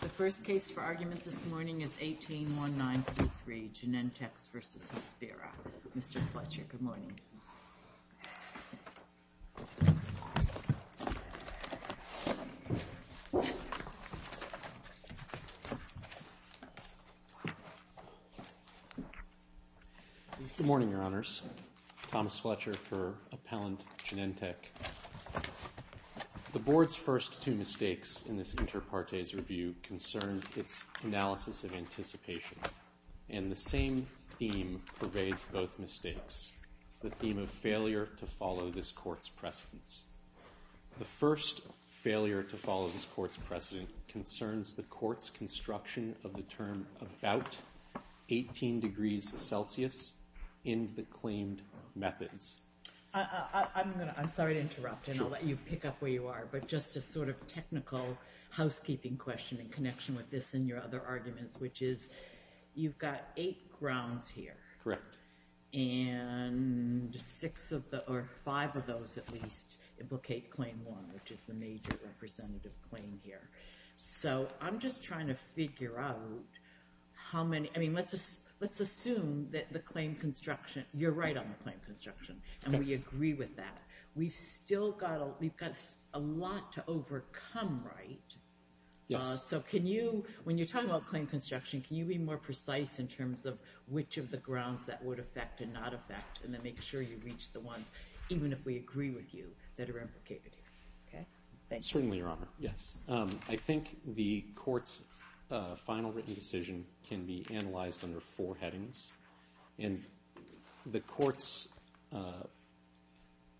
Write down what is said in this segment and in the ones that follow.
The first case for argument this morning is 18-1933, Genentechs v. Hospira. Mr. Fletcher, good morning. Good morning, Your Honors. Thomas Fletcher for Appellant Genentech. The Board's first two mistakes in this Interpartes Review concerned its analysis of anticipation, and the same theme pervades both mistakes. The theme of failure to follow this Court's precedence. The first failure to follow this Court's precedent concerns the Court's construction of the term about 18 degrees Celsius in the claimed methods. I'm sorry to interrupt, and I'll let you pick up where you are, but just a sort of technical housekeeping question in connection with this and your other arguments, which is you've got eight grounds here, and five of those at least implicate Claim 1, which is the major representative claim here. So I'm just trying to figure out how many, I mean, let's assume that the claim construction, you're right on the claim construction, and we agree with that. We've still got a lot to overcome, right? Yes. So can you, when you're talking about claim construction, can you be more precise in terms of which of the grounds that would affect and not affect, and then make sure you reach the ones, even if we agree with you, that are implicated here? Okay? Certainly, Your Honor. Yes. I think the Court's final written decision can be analyzed under four headings, and the Court's,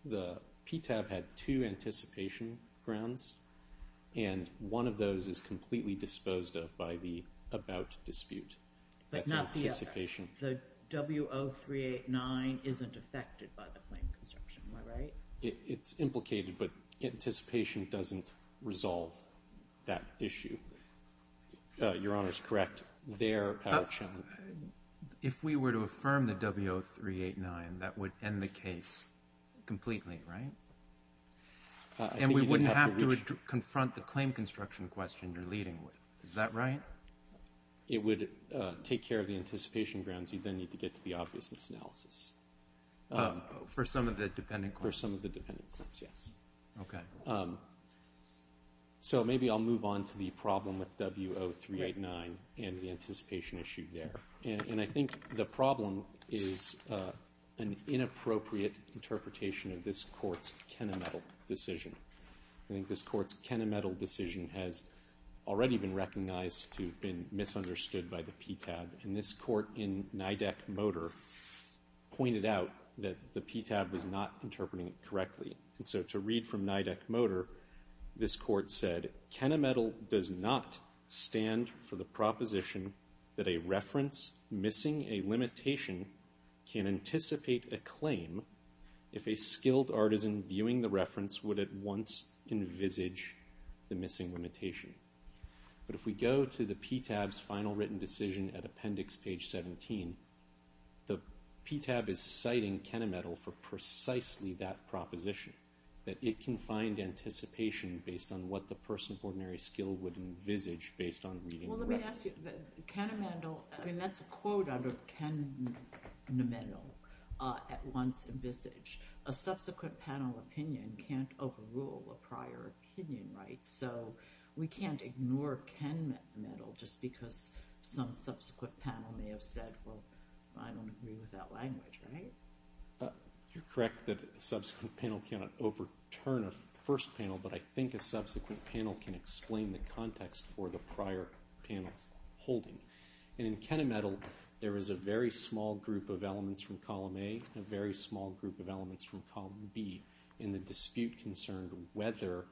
the PTAB had two anticipation grounds, and one of those is completely disposed of by the about dispute. But not the other. That's anticipation. The W0389 isn't affected by the claim construction, am I right? It's implicated, but anticipation doesn't resolve that issue. Your Honor's correct, their power challenge. If we were to affirm the W0389, that would end the case completely, right? And we wouldn't have to confront the claim construction question you're leading with. Is that right? It would take care of the anticipation grounds. You'd then need to get to the obvious misanalysis. For some of the dependent claims? For some of the dependent claims, yes. Okay. So, maybe I'll move on to the problem with W0389 and the anticipation issue there. And I think the problem is an inappropriate interpretation of this Court's Kenametal decision. I think this Court's Kenametal decision has already been recognized to have been misunderstood by the PTAB, and this Court in NIDAC-Motor pointed out that the PTAB was not interpreting it correctly. And so, to read from NIDAC-Motor, this Court said, Kenametal does not stand for the proposition that a reference missing a limitation can anticipate a claim if a skilled artisan viewing the reference would at once envisage the missing limitation. But if we go to the PTAB's final written decision at Appendix Page 17, the PTAB is citing Kenametal for precisely that proposition, that it can find anticipation based on what the person of ordinary skill would envisage based on reading the reference. Well, let me ask you, Kenametal, I mean, that's a quote out of Kenametal, at once envisage. A subsequent panel opinion can't overrule a prior opinion, right? So, we can't ignore Kenametal just because some subsequent panel may have said, well, I don't agree with that language, right? You're correct that a subsequent panel cannot overturn a first panel, but I think a subsequent panel can explain the context for the prior panel's holding. And in Kenametal, there is a very small group of elements from Column A and a very small group of elements from Column B in the dispute concerned whether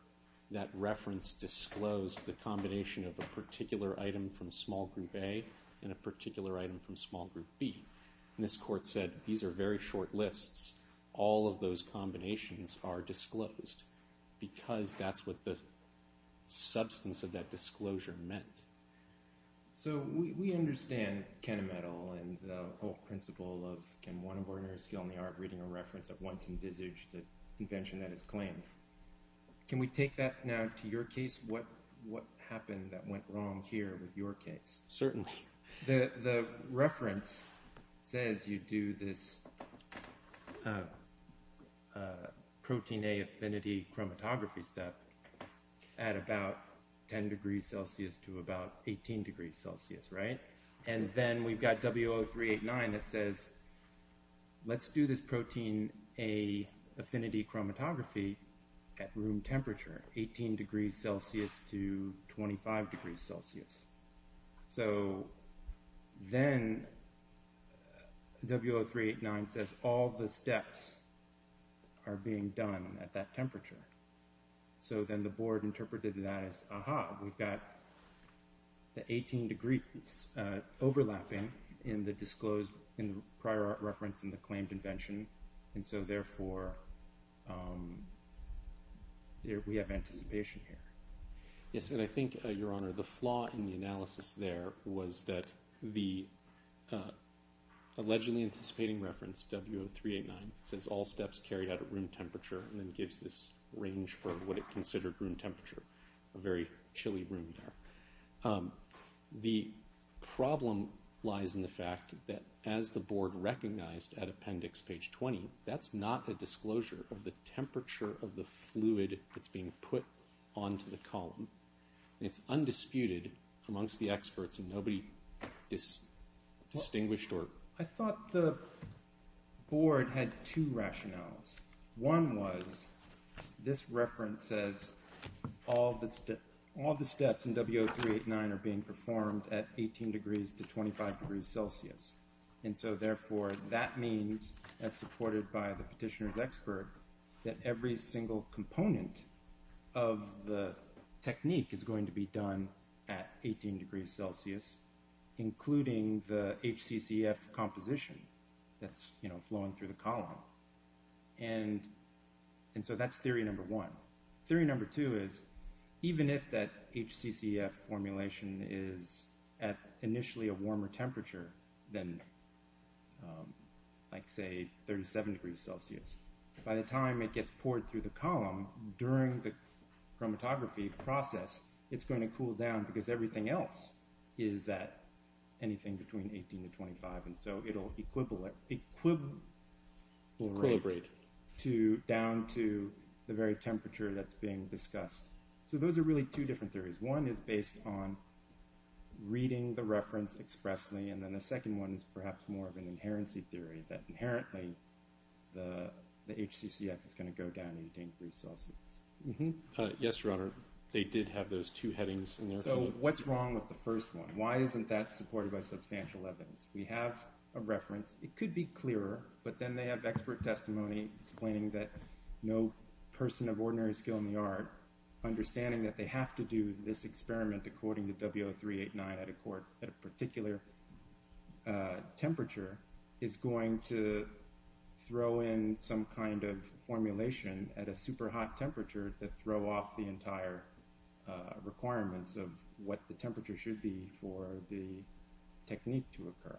that reference disclosed the combination of a particular item from Small Group A and a particular item from Small Group B. And this court said, these are very short lists. All of those combinations are disclosed because that's what the substance of that disclosure meant. So, we understand Kenametal and the whole principle of, can one of ordinary skill in the art of reading a reference at once envisage the convention that is claimed. Can we take that now to your case? What happened that went wrong here with your case? Certainly. The reference says you do this protein A affinity chromatography step at about 10 degrees Celsius to about 18 degrees Celsius, right? And then we've got W0389 that says, let's do this protein A affinity chromatography at room temperature, 18 degrees Celsius to 25 degrees Celsius. So, then W0389 says, all the steps are being done at that temperature. So then the board interpreted that as, aha, we've got the 18 degrees overlapping in the disclosed in the prior reference in the claimed invention. And so therefore, we have anticipation here. Yes, and I think your honor, the flaw in the analysis there was that the allegedly anticipating reference W0389 says all steps carried out at room temperature and then gives this range for what it considered room temperature, a very chilly room there. The problem lies in the fact that as the board recognized at appendix page 20, that's not a disclosure of the temperature of the fluid that's being put onto the column. It's undisputed amongst the experts and nobody distinguished or... I thought the board had two rationales. One was this reference says all the steps in W0389 are being performed at 18 degrees to 25 degrees Celsius. And so therefore, that means as supported by the petitioner's expert, that every single component of the technique is going to be done at 18 degrees Celsius, including the HCCF composition that's flowing through the column. And so that's theory number one. Theory number two is even if that HCCF formulation is at initially a warmer temperature than like, say, 37 degrees Celsius, by the time it gets poured through the column during the chromatography process, it's going to cool down because everything else is at anything between 18 to 25. And so it'll equilibrate down to the very temperature that's being discussed. So those are really two different theories. One is based on reading the reference expressly. And then the second one is perhaps more of an inherency theory that inherently, the HCCF is going to go down 18 degrees Celsius. Yes, Your Honor, they did have those two headings in there. So what's wrong with the first one? Why isn't that supported by substantial evidence? We have a reference. It could be clearer, but then they have expert testimony explaining that no person of ordinary skill in the art, understanding that they have to do this experiment according to W0389 at a particular temperature, is going to throw in some kind of formulation at a super hot temperature that throw off the entire requirements of what the temperature should be for the technique to occur.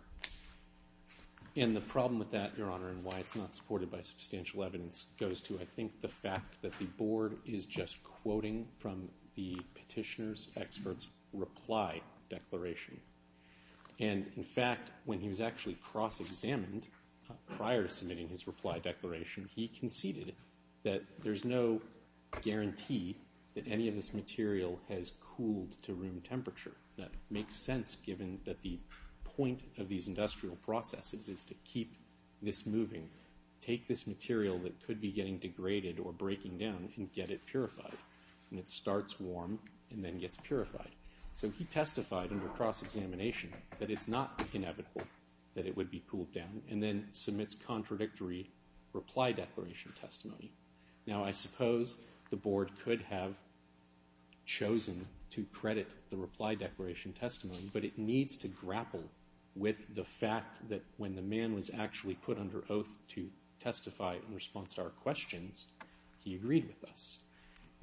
And the problem with that, Your Honor, and why it's not supported by substantial evidence goes to, I think, the fact that the board is just quoting from the petitioner's expert's reply declaration. And in fact, when he was actually cross-examined prior to submitting his reply declaration, he conceded that there's no guarantee that any of this material has cooled to room temperature. That makes sense given that the point of these industrial processes is to keep this moving. Take this material that could be getting degraded or breaking down and get it purified. And it starts warm and then gets purified. So he testified under cross-examination that it's not inevitable that it would be cooled down and then submits contradictory reply declaration testimony. Now I suppose the board could have chosen to credit the reply declaration testimony, but it needs to grapple with the fact that when the man was actually put under oath to testify in response to our questions, he agreed with us.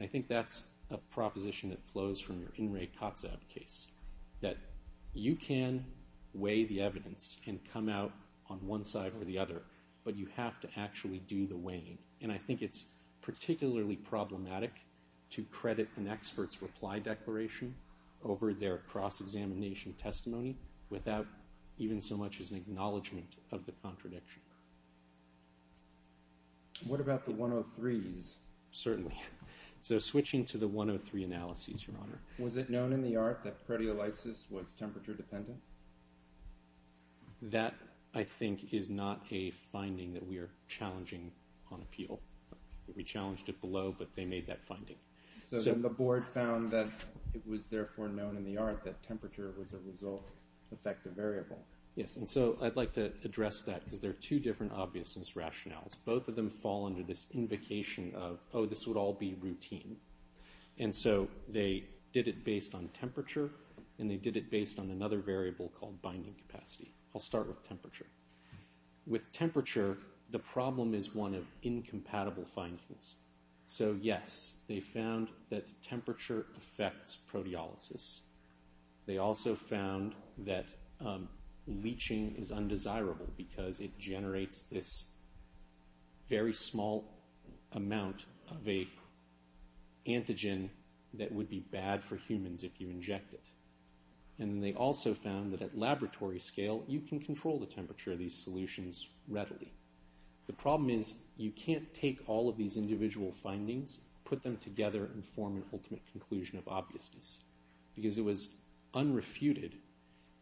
I think that's a proposition that flows from your In re Cotsab case, that you can weigh the evidence and come out on one side or the other, but you have to actually do the weighing. And I think it's particularly problematic to credit an expert's reply declaration over their cross-examination testimony without even so much as an acknowledgment of the contradiction. What about the 103s? Certainly. So switching to the 103 analyses, Your Honor. Was it known in the art that proteolysis was temperature dependent? That I think is not a finding that we are challenging on appeal. We challenged it below, but they made that finding. So then the board found that it was therefore known in the art that temperature was a result effective variable. Yes. And so I'd like to address that because there are two different obviousness rationales. Both of them fall under this invocation of, oh, this would all be routine. And so they did it based on temperature, and they did it based on another variable called binding capacity. I'll start with temperature. With temperature, the problem is one of incompatible findings. So yes, they found that temperature affects proteolysis. They also found that leaching is undesirable because it generates this very small amount of a antigen that would be bad for humans if you inject it. And then they also found that at laboratory scale, you can control the temperature of these solutions readily. The problem is you can't take all of these individual findings, put them together, and form an ultimate conclusion of obviousness because it was unrefuted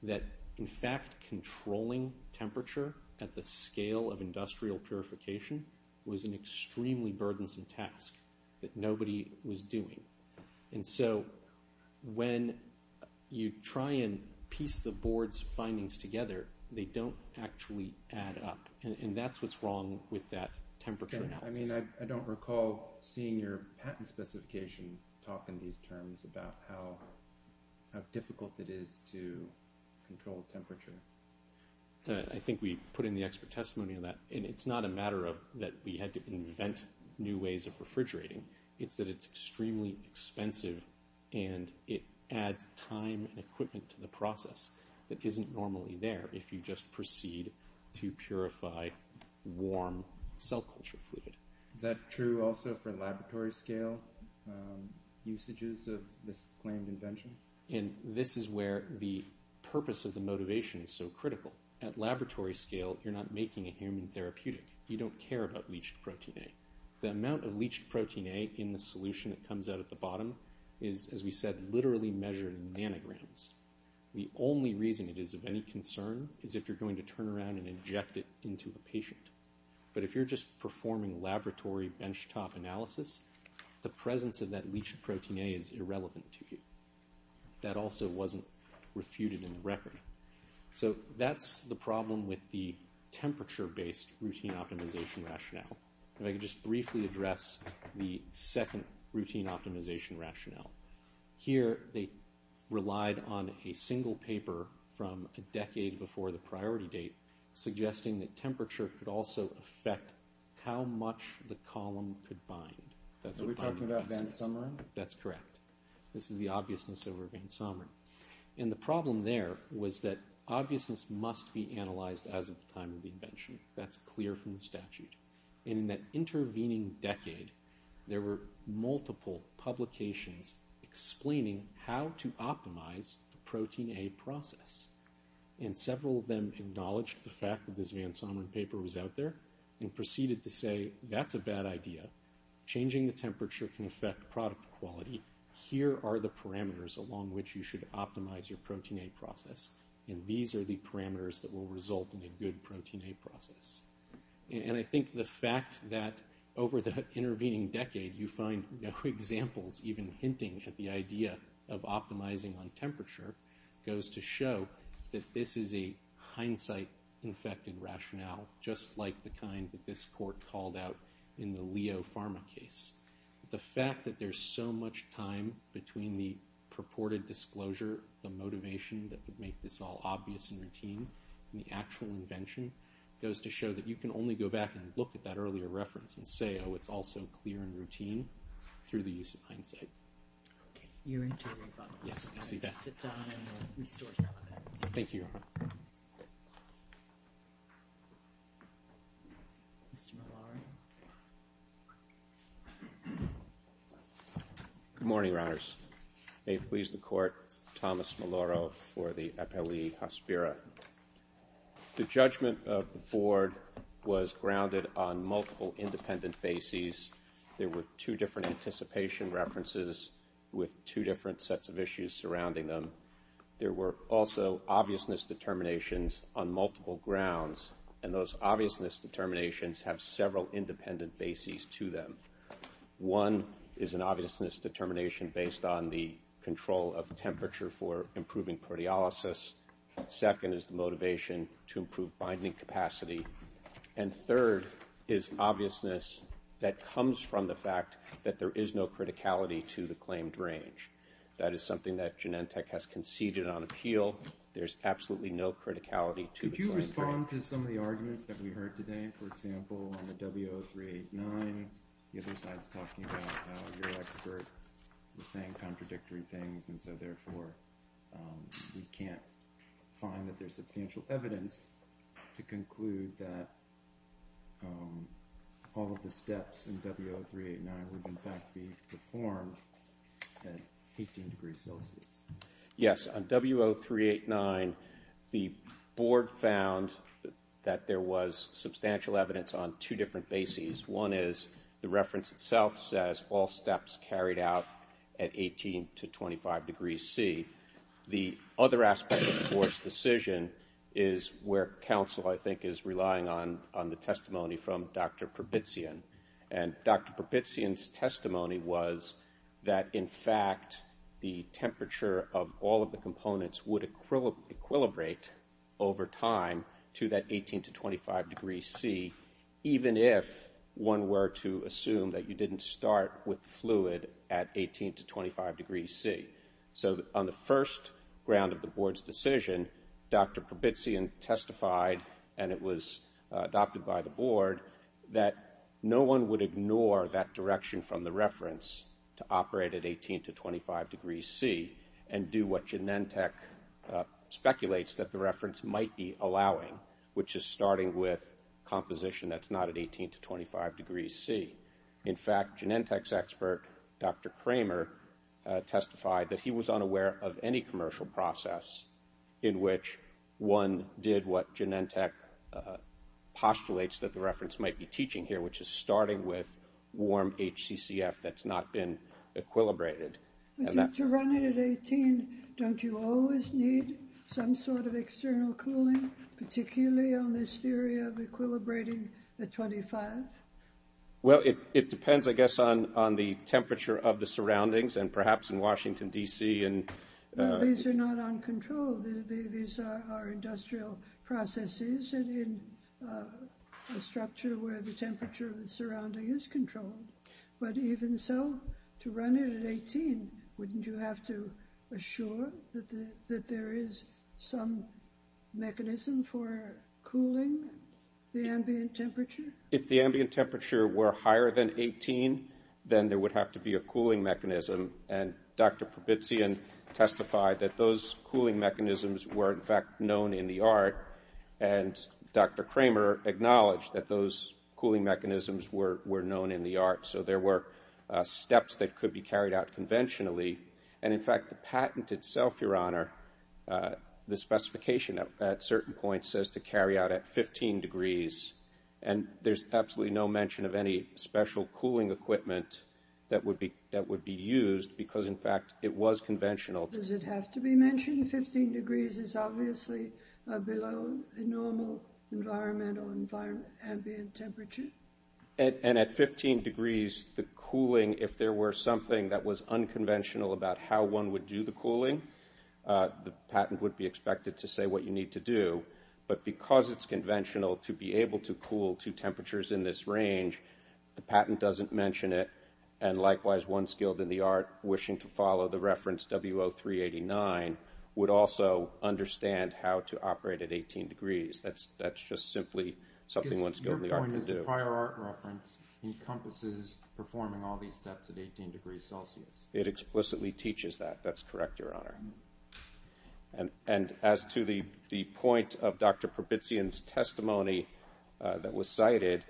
that, in fact, controlling temperature at the scale of industrial purification was an extremely burdensome task that nobody was doing. And so when you try and piece the board's findings together, they don't actually add up. And that's what's wrong with that temperature analysis. I mean, I don't recall seeing your patent specification talk in these terms about how difficult it is to control temperature. I think we put in the expert testimony on that. And it's not a matter of that we had to invent new ways of refrigerating. It's that it's extremely expensive and it adds time and equipment to the process that isn't normally there if you just proceed to purify warm cell culture fluid. Is that true also for laboratory scale usages of this claimed invention? And this is where the purpose of the motivation is so critical. At laboratory scale, you're not making a human therapeutic. You don't care about leached protein A. The amount of leached protein A in the solution that comes out at the bottom is, as we said, literally measured in nanograms. The only reason it is of any concern is if you're going to turn around and inject it into a patient. But if you're just performing laboratory benchtop analysis, the presence of that leached protein A is irrelevant to you. That also wasn't refuted in the record. So that's the problem with the temperature-based routine optimization rationale. If I could just briefly address the second routine optimization rationale. Here they relied on a single paper from a decade before the priority date suggesting that temperature could also affect how much the column could bind. That's what I'm asking. Are we talking about Van Sumeren? That's correct. This is the obviousness over Van Sumeren. And the problem there was that obviousness must be analyzed as of the time of the invention. That's clear from the statute. And in that intervening decade, there were multiple publications explaining how to optimize the protein A process. And several of them acknowledged the fact that this Van Sumeren paper was out there and proceeded to say, that's a bad idea. Changing the temperature can affect product quality. Here are the parameters along which you should optimize your protein A process. And these are the parameters that will result in a good protein A process. And I think the fact that over the intervening decade, you find no examples even hinting at the idea of optimizing on temperature goes to show that this is a hindsight-infected pharma case. The fact that there's so much time between the purported disclosure, the motivation that would make this all obvious and routine, and the actual invention goes to show that you can only go back and look at that earlier reference and say, oh, it's also clear and routine through the use of hindsight. OK. You're interrupting. Yes. I see that. Sit down and we'll restore some of that. Thank you. Mr. Malari? Good morning, Your Honors. May it please the Court, Thomas Malaro for the Appellee Hospira. The judgment of the Board was grounded on multiple independent bases. There were two different anticipation references with two different sets of issues surrounding them. There were also obviousness determinations on multiple grounds. And those obviousness determinations have several independent bases to them. One is an obviousness determination based on the control of temperature for improving proteolysis. Second is the motivation to improve binding capacity. And third is obviousness that comes from the fact that there is no criticality to the claimed range. That is something that Genentech has conceded on appeal. There's absolutely no criticality to the claimed range. Going on to some of the arguments that we heard today, for example, on the W0389, the other side's talking about how your expert was saying contradictory things, and so therefore we can't find that there's substantial evidence to conclude that all of the steps in W0389 would in fact be performed at 18 degrees Celsius. Yes. On W0389, the board found that there was substantial evidence on two different bases. One is the reference itself says all steps carried out at 18 to 25 degrees C. The other aspect of the board's decision is where counsel, I think, is relying on the testimony from Dr. Probitzian. And Dr. Probitzian's testimony was that in fact the temperature of all of the components would equilibrate over time to that 18 to 25 degrees C, even if one were to assume that you didn't start with fluid at 18 to 25 degrees C. So on the first round of the board's decision, Dr. Probitzian testified, and it was adopted by the board, that no one would ignore that direction from the reference to operate at 18 to 25 degrees C and do what Genentech speculates that the reference might be allowing, which is starting with composition that's not at 18 to 25 degrees C. In fact, Genentech's expert, Dr. Kramer, testified that he was unaware of any commercial process in which one did what Genentech postulates that the reference might be teaching here, which is starting with warm HCCF that's not been equilibrated. To run it at 18, don't you always need some sort of external cooling, particularly on this theory of equilibrating at 25? Well, it depends, I guess, on the temperature of the surroundings and perhaps in Washington, D.C. These are not uncontrolled. These are industrial processes in a structure where the temperature of the surrounding is controlled. But even so, to run it at 18, wouldn't you have to assure that there is some mechanism for cooling the ambient temperature? If the ambient temperature were higher than 18, then there would have to be a cooling mechanism. And Dr. Probitzian testified that those cooling mechanisms were, in fact, known in the art. And Dr. Kramer acknowledged that those cooling mechanisms were known in the art. So there were steps that could be carried out conventionally. And, in fact, the patent itself, Your Honor, the specification at certain points says to carry out at 15 degrees. And there's absolutely no mention of any special cooling equipment that would be used because, in fact, it was conventional. Does it have to be mentioned? 15 degrees is obviously below normal environmental ambient temperature. And at 15 degrees, the cooling, if there were something that was unconventional about how one would do the cooling, the patent would be expected to say what you need to do. But because it's conventional to be able to cool to temperatures in this range, the patent doesn't mention it. And, likewise, one skilled in the art wishing to follow the reference W0389 would also understand how to operate at 18 degrees. That's just simply something one skilled in the art could do. Your point is the prior art reference encompasses performing all these steps at 18 degrees Celsius. It explicitly teaches that. That's correct, Your Honor. And as to the point of Dr. Probitzian's testimony that was cited,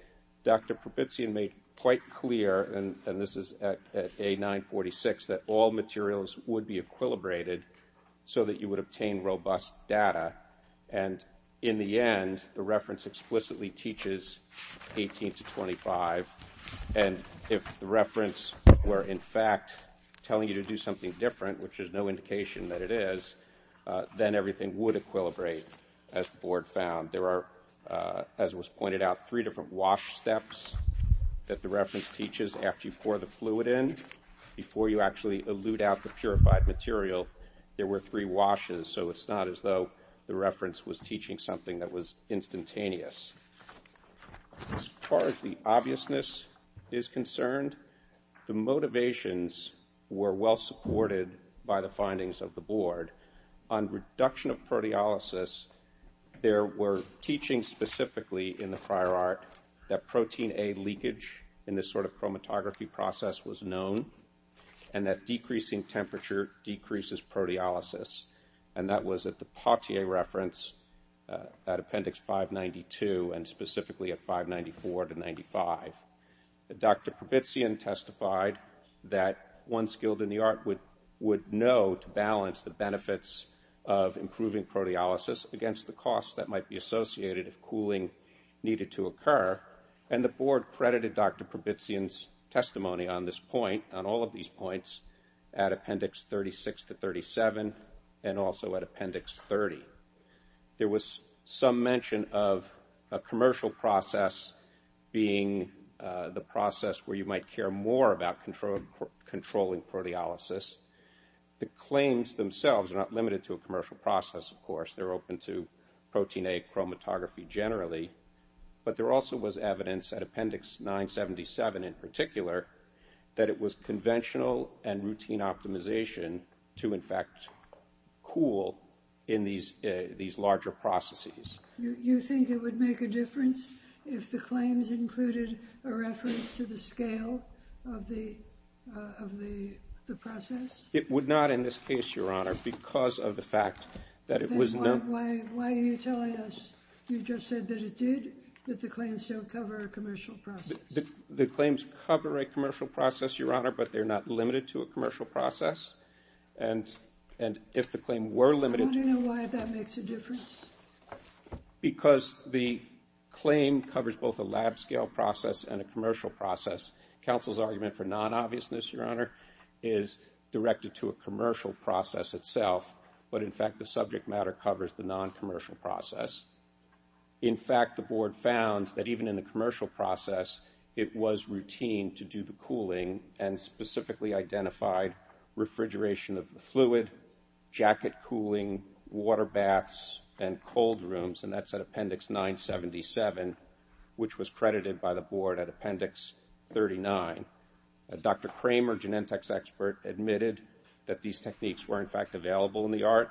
Dr. Probitzian made quite clear, and this is at A946, that all materials would be equilibrated so that you would obtain robust data. And, in the end, the reference explicitly teaches 18 to 25. And if the reference were, in fact, telling you to do something different, which there's no indication that it is, then everything would equilibrate, as the Board found. There are, as was pointed out, three different wash steps that the reference teaches after you pour the fluid in. Before you actually elude out the purified material, there were three washes, so it's not as though the reference was teaching something that was instantaneous. As far as the obviousness is concerned, the motivations were well supported by the findings of the Board. On reduction of proteolysis, there were teachings specifically in the prior art that protein A leakage in this sort of chromatography process was known and that decreasing temperature decreases proteolysis. And that was at the Pottier reference, at Appendix 592, and specifically at 594 to 95. Dr. Probitzian testified that one skilled in the art would know to balance the benefits of improving proteolysis against the costs that might be associated if cooling needed to occur. And the Board credited Dr. Probitzian's testimony on this point, on all of these points, at Appendix 36 to 37 and also at Appendix 30. There was some mention of a commercial process being the process where you might care more about controlling proteolysis. The claims themselves are not limited to a commercial process, of course. They're open to protein A chromatography generally. But there also was evidence at Appendix 977 in particular that it was conventional and routine optimization to, in fact, cool in these larger processes. You think it would make a difference if the claims included a reference to the scale of the process? It would not in this case, Your Honor, because of the fact that it was not. Why are you telling us you just said that it did, that the claims don't cover a commercial process? The claims cover a commercial process, Your Honor, but they're not limited to a commercial process. And if the claim were limited to a commercial process. I want to know why that makes a difference. Because the claim covers both a lab-scale process and a commercial process. Counsel's argument for non-obviousness, Your Honor, is directed to a commercial process itself. But, in fact, the subject matter covers the non-commercial process. In fact, the Board found that even in the commercial process, it was routine to do the cooling and specifically identified refrigeration of the fluid, jacket cooling, water baths, and cold rooms. And that's at Appendix 977, which was credited by the Board at Appendix 39. Dr. Kramer, Genentech's expert, admitted that these techniques were, in fact, available in the art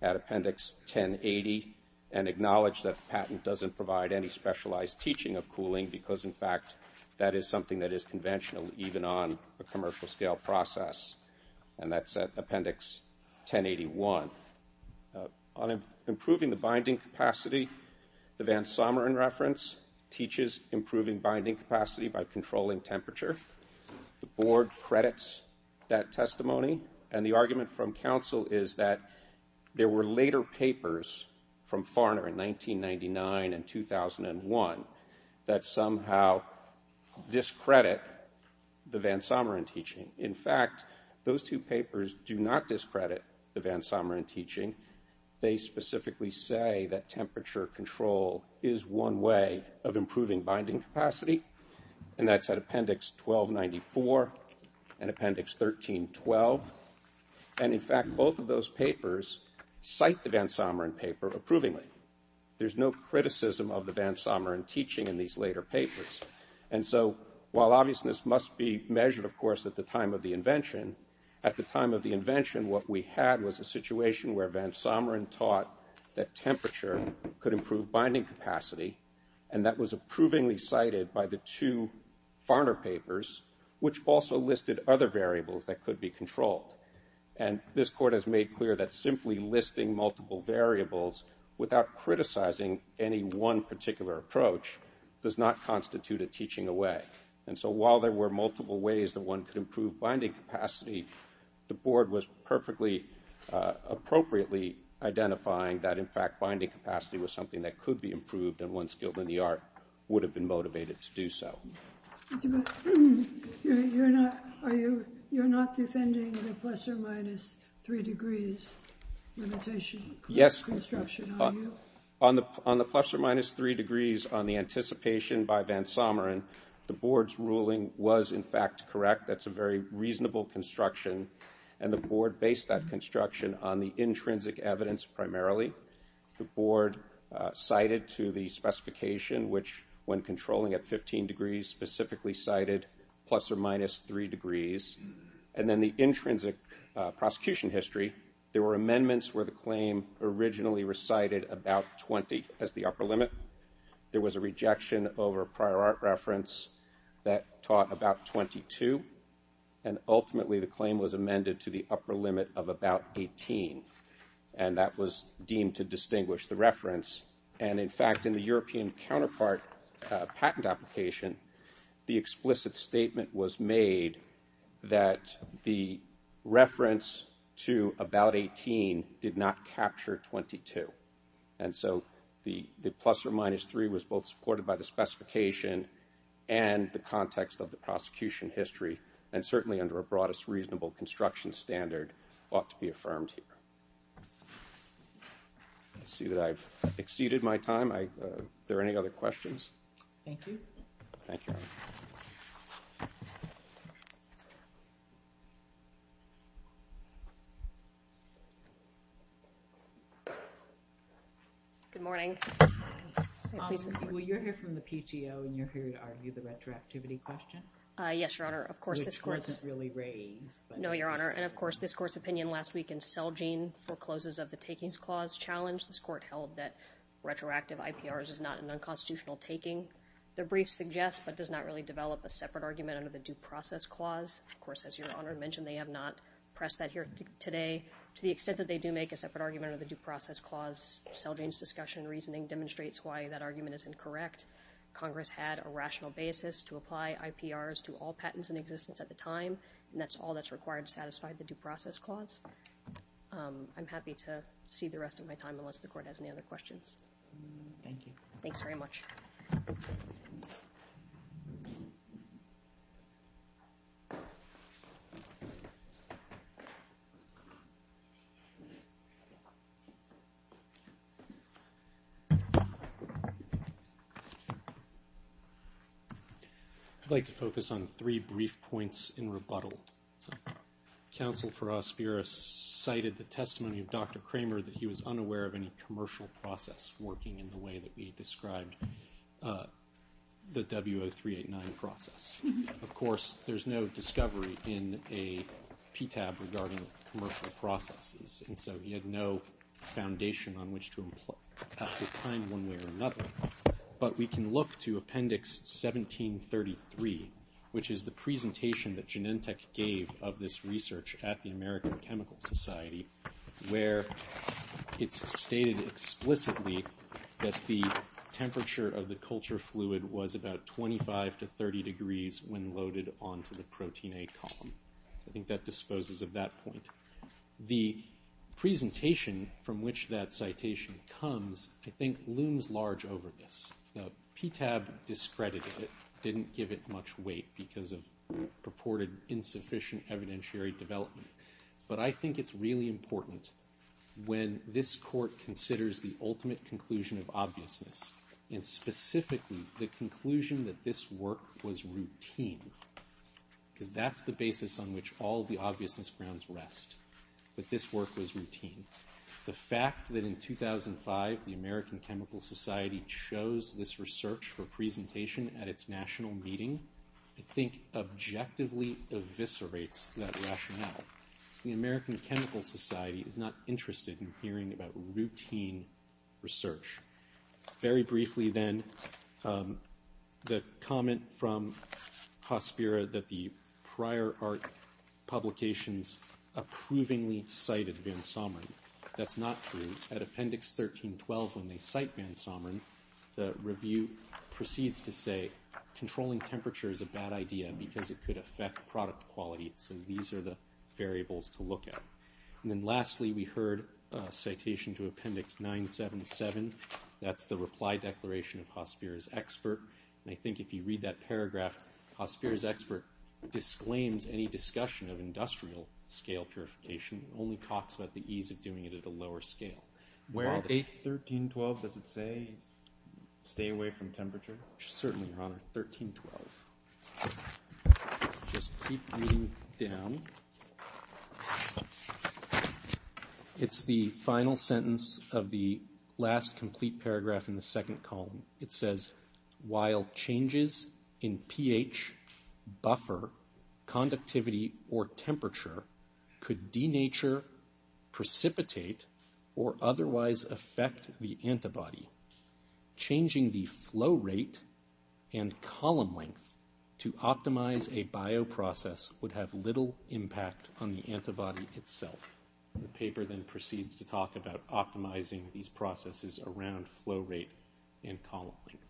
at Appendix 1080 and acknowledged that the patent doesn't provide any specialized teaching of cooling because, in fact, that is something that is conventional even on a commercial-scale process. And that's at Appendix 1081. On improving the binding capacity, the Van Sommer, in reference, teaches improving binding capacity by controlling temperature. The Board credits that testimony. And the argument from counsel is that there were later papers from Farner in 1999 and 2001 that somehow discredit the Van Sommer in teaching. In fact, those two papers do not discredit the Van Sommer in teaching. They specifically say that temperature control is one way of improving binding capacity, and that's at Appendix 1294 and Appendix 1312. And, in fact, both of those papers cite the Van Sommer in paper approvingly. There's no criticism of the Van Sommer in teaching in these later papers. And so while obviousness must be measured, of course, at the time of the invention, what we had was a situation where Van Sommer taught that temperature could improve binding capacity, and that was approvingly cited by the two Farner papers, which also listed other variables that could be controlled. And this Court has made clear that simply listing multiple variables without criticizing any one particular approach does not constitute a teaching away. And so while there were multiple ways that one could improve binding capacity, the Board was perfectly appropriately identifying that, in fact, binding capacity was something that could be improved, and one skilled in the art would have been motivated to do so. You're not defending the plus or minus three degrees limitation? Yes. On the plus or minus three degrees on the anticipation by Van Sommer, the Board's ruling was, in fact, correct. That's a very reasonable construction, and the Board based that construction on the intrinsic evidence primarily. The Board cited to the specification which, when controlling at 15 degrees, specifically cited plus or minus three degrees. And then the intrinsic prosecution history, there were amendments where the claim originally recited about 20 as the upper limit. There was a rejection over prior art reference that taught about 22, and ultimately the claim was amended to the upper limit of about 18, and that was deemed to distinguish the reference. And, in fact, in the European counterpart patent application, the explicit statement was made that the reference to about 18 did not capture 22. And so the plus or minus three was both supported by the specification and the context of the prosecution history, and certainly under a broadest reasonable construction standard ought to be affirmed here. I see that I've exceeded my time. Are there any other questions? Thank you. Thank you, Your Honor. Good morning. Well, you're here from the PTO, and you're here to argue the retroactivity question? Yes, Your Honor. Of course, this Court's opinion last week in Celgene forecloses of the takings clause challenge, this Court held that retroactive IPRs is not an unconstitutional taking. The brief suggests but does not really develop a separate argument under the due process clause. Of course, as Your Honor mentioned, they have not pressed that here today. To the extent that they do make a separate argument under the due process clause, Celgene's discussion and reasoning demonstrates why that argument is incorrect. Congress had a rational basis to apply IPRs to all patents in existence at the time, and that's all that's required to satisfy the due process clause. I'm happy to cede the rest of my time unless the Court has any other questions. Thank you. Thanks very much. I'd like to focus on three brief points in rebuttal. Counsel for Ospira cited the testimony of Dr. Kramer that he was unaware of any commercial process working in the way that we described the W0389 process. Of course, there's no discovery in a PTAB regarding commercial processes, and so he had no foundation on which to find one way or another. But we can look to Appendix 1733, which is the presentation that Genentech gave of this research at the American Chemical Society, where it's stated explicitly that the temperature of the culture fluid was about 25 to 30 degrees when loaded onto the protein A column. I think that disposes of that point. The presentation from which that citation comes, I think, looms large over this. The PTAB discredited it, didn't give it much weight, because of purported insufficient evidentiary development. But I think it's really important when this court considers the ultimate conclusion of obviousness, and specifically the conclusion that this work was routine, because that's the basis on which all the obviousness grounds rest, that this work was routine. The fact that in 2005 the American Chemical Society chose this research for presentation at its national meeting, I think objectively eviscerates that rationale. The American Chemical Society is not interested in hearing about routine research. Very briefly, then, the comment from Hospira that the prior art publications approvingly cited van Someren. That's not true. At Appendix 1312, when they cite van Someren, the review proceeds to say controlling temperature is a bad idea because it could affect product quality. So these are the variables to look at. And then lastly, we heard a citation to Appendix 977. That's the reply declaration of Hospira's expert. And I think if you read that paragraph, Hospira's expert disclaims any discussion of industrial scale purification, only talks about the ease of doing it at a lower scale. 1312, does it say stay away from temperature? Certainly, Your Honor, 1312. Just keep reading down. It's the final sentence of the last complete paragraph in the second column. It says, while changes in pH, buffer, conductivity, or temperature could denature, precipitate, or otherwise affect the antibody, changing the flow rate and column length to optimize a bioprocess would have little impact on the antibody itself. The paper then proceeds to talk about optimizing these processes around flow rate and column length.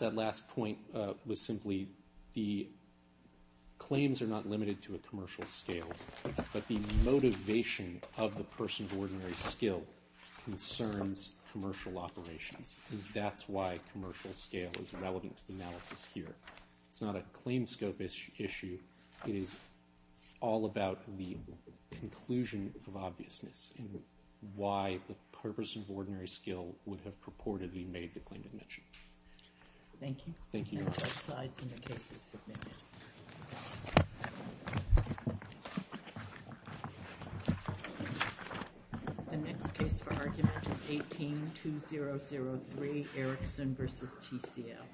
That last point was simply the claims are not limited to a commercial scale, but the motivation of the person's ordinary skill concerns commercial operations. And that's why commercial scale is relevant to the analysis here. It's not a claim scope issue. It is all about the conclusion of obviousness and why the purpose of ordinary skill would have purportedly made the claim to mention. Thank you. Thank you, Your Honor. That side's in the cases submitted. The next case for argument is 18-2003, Erickson v. TCL.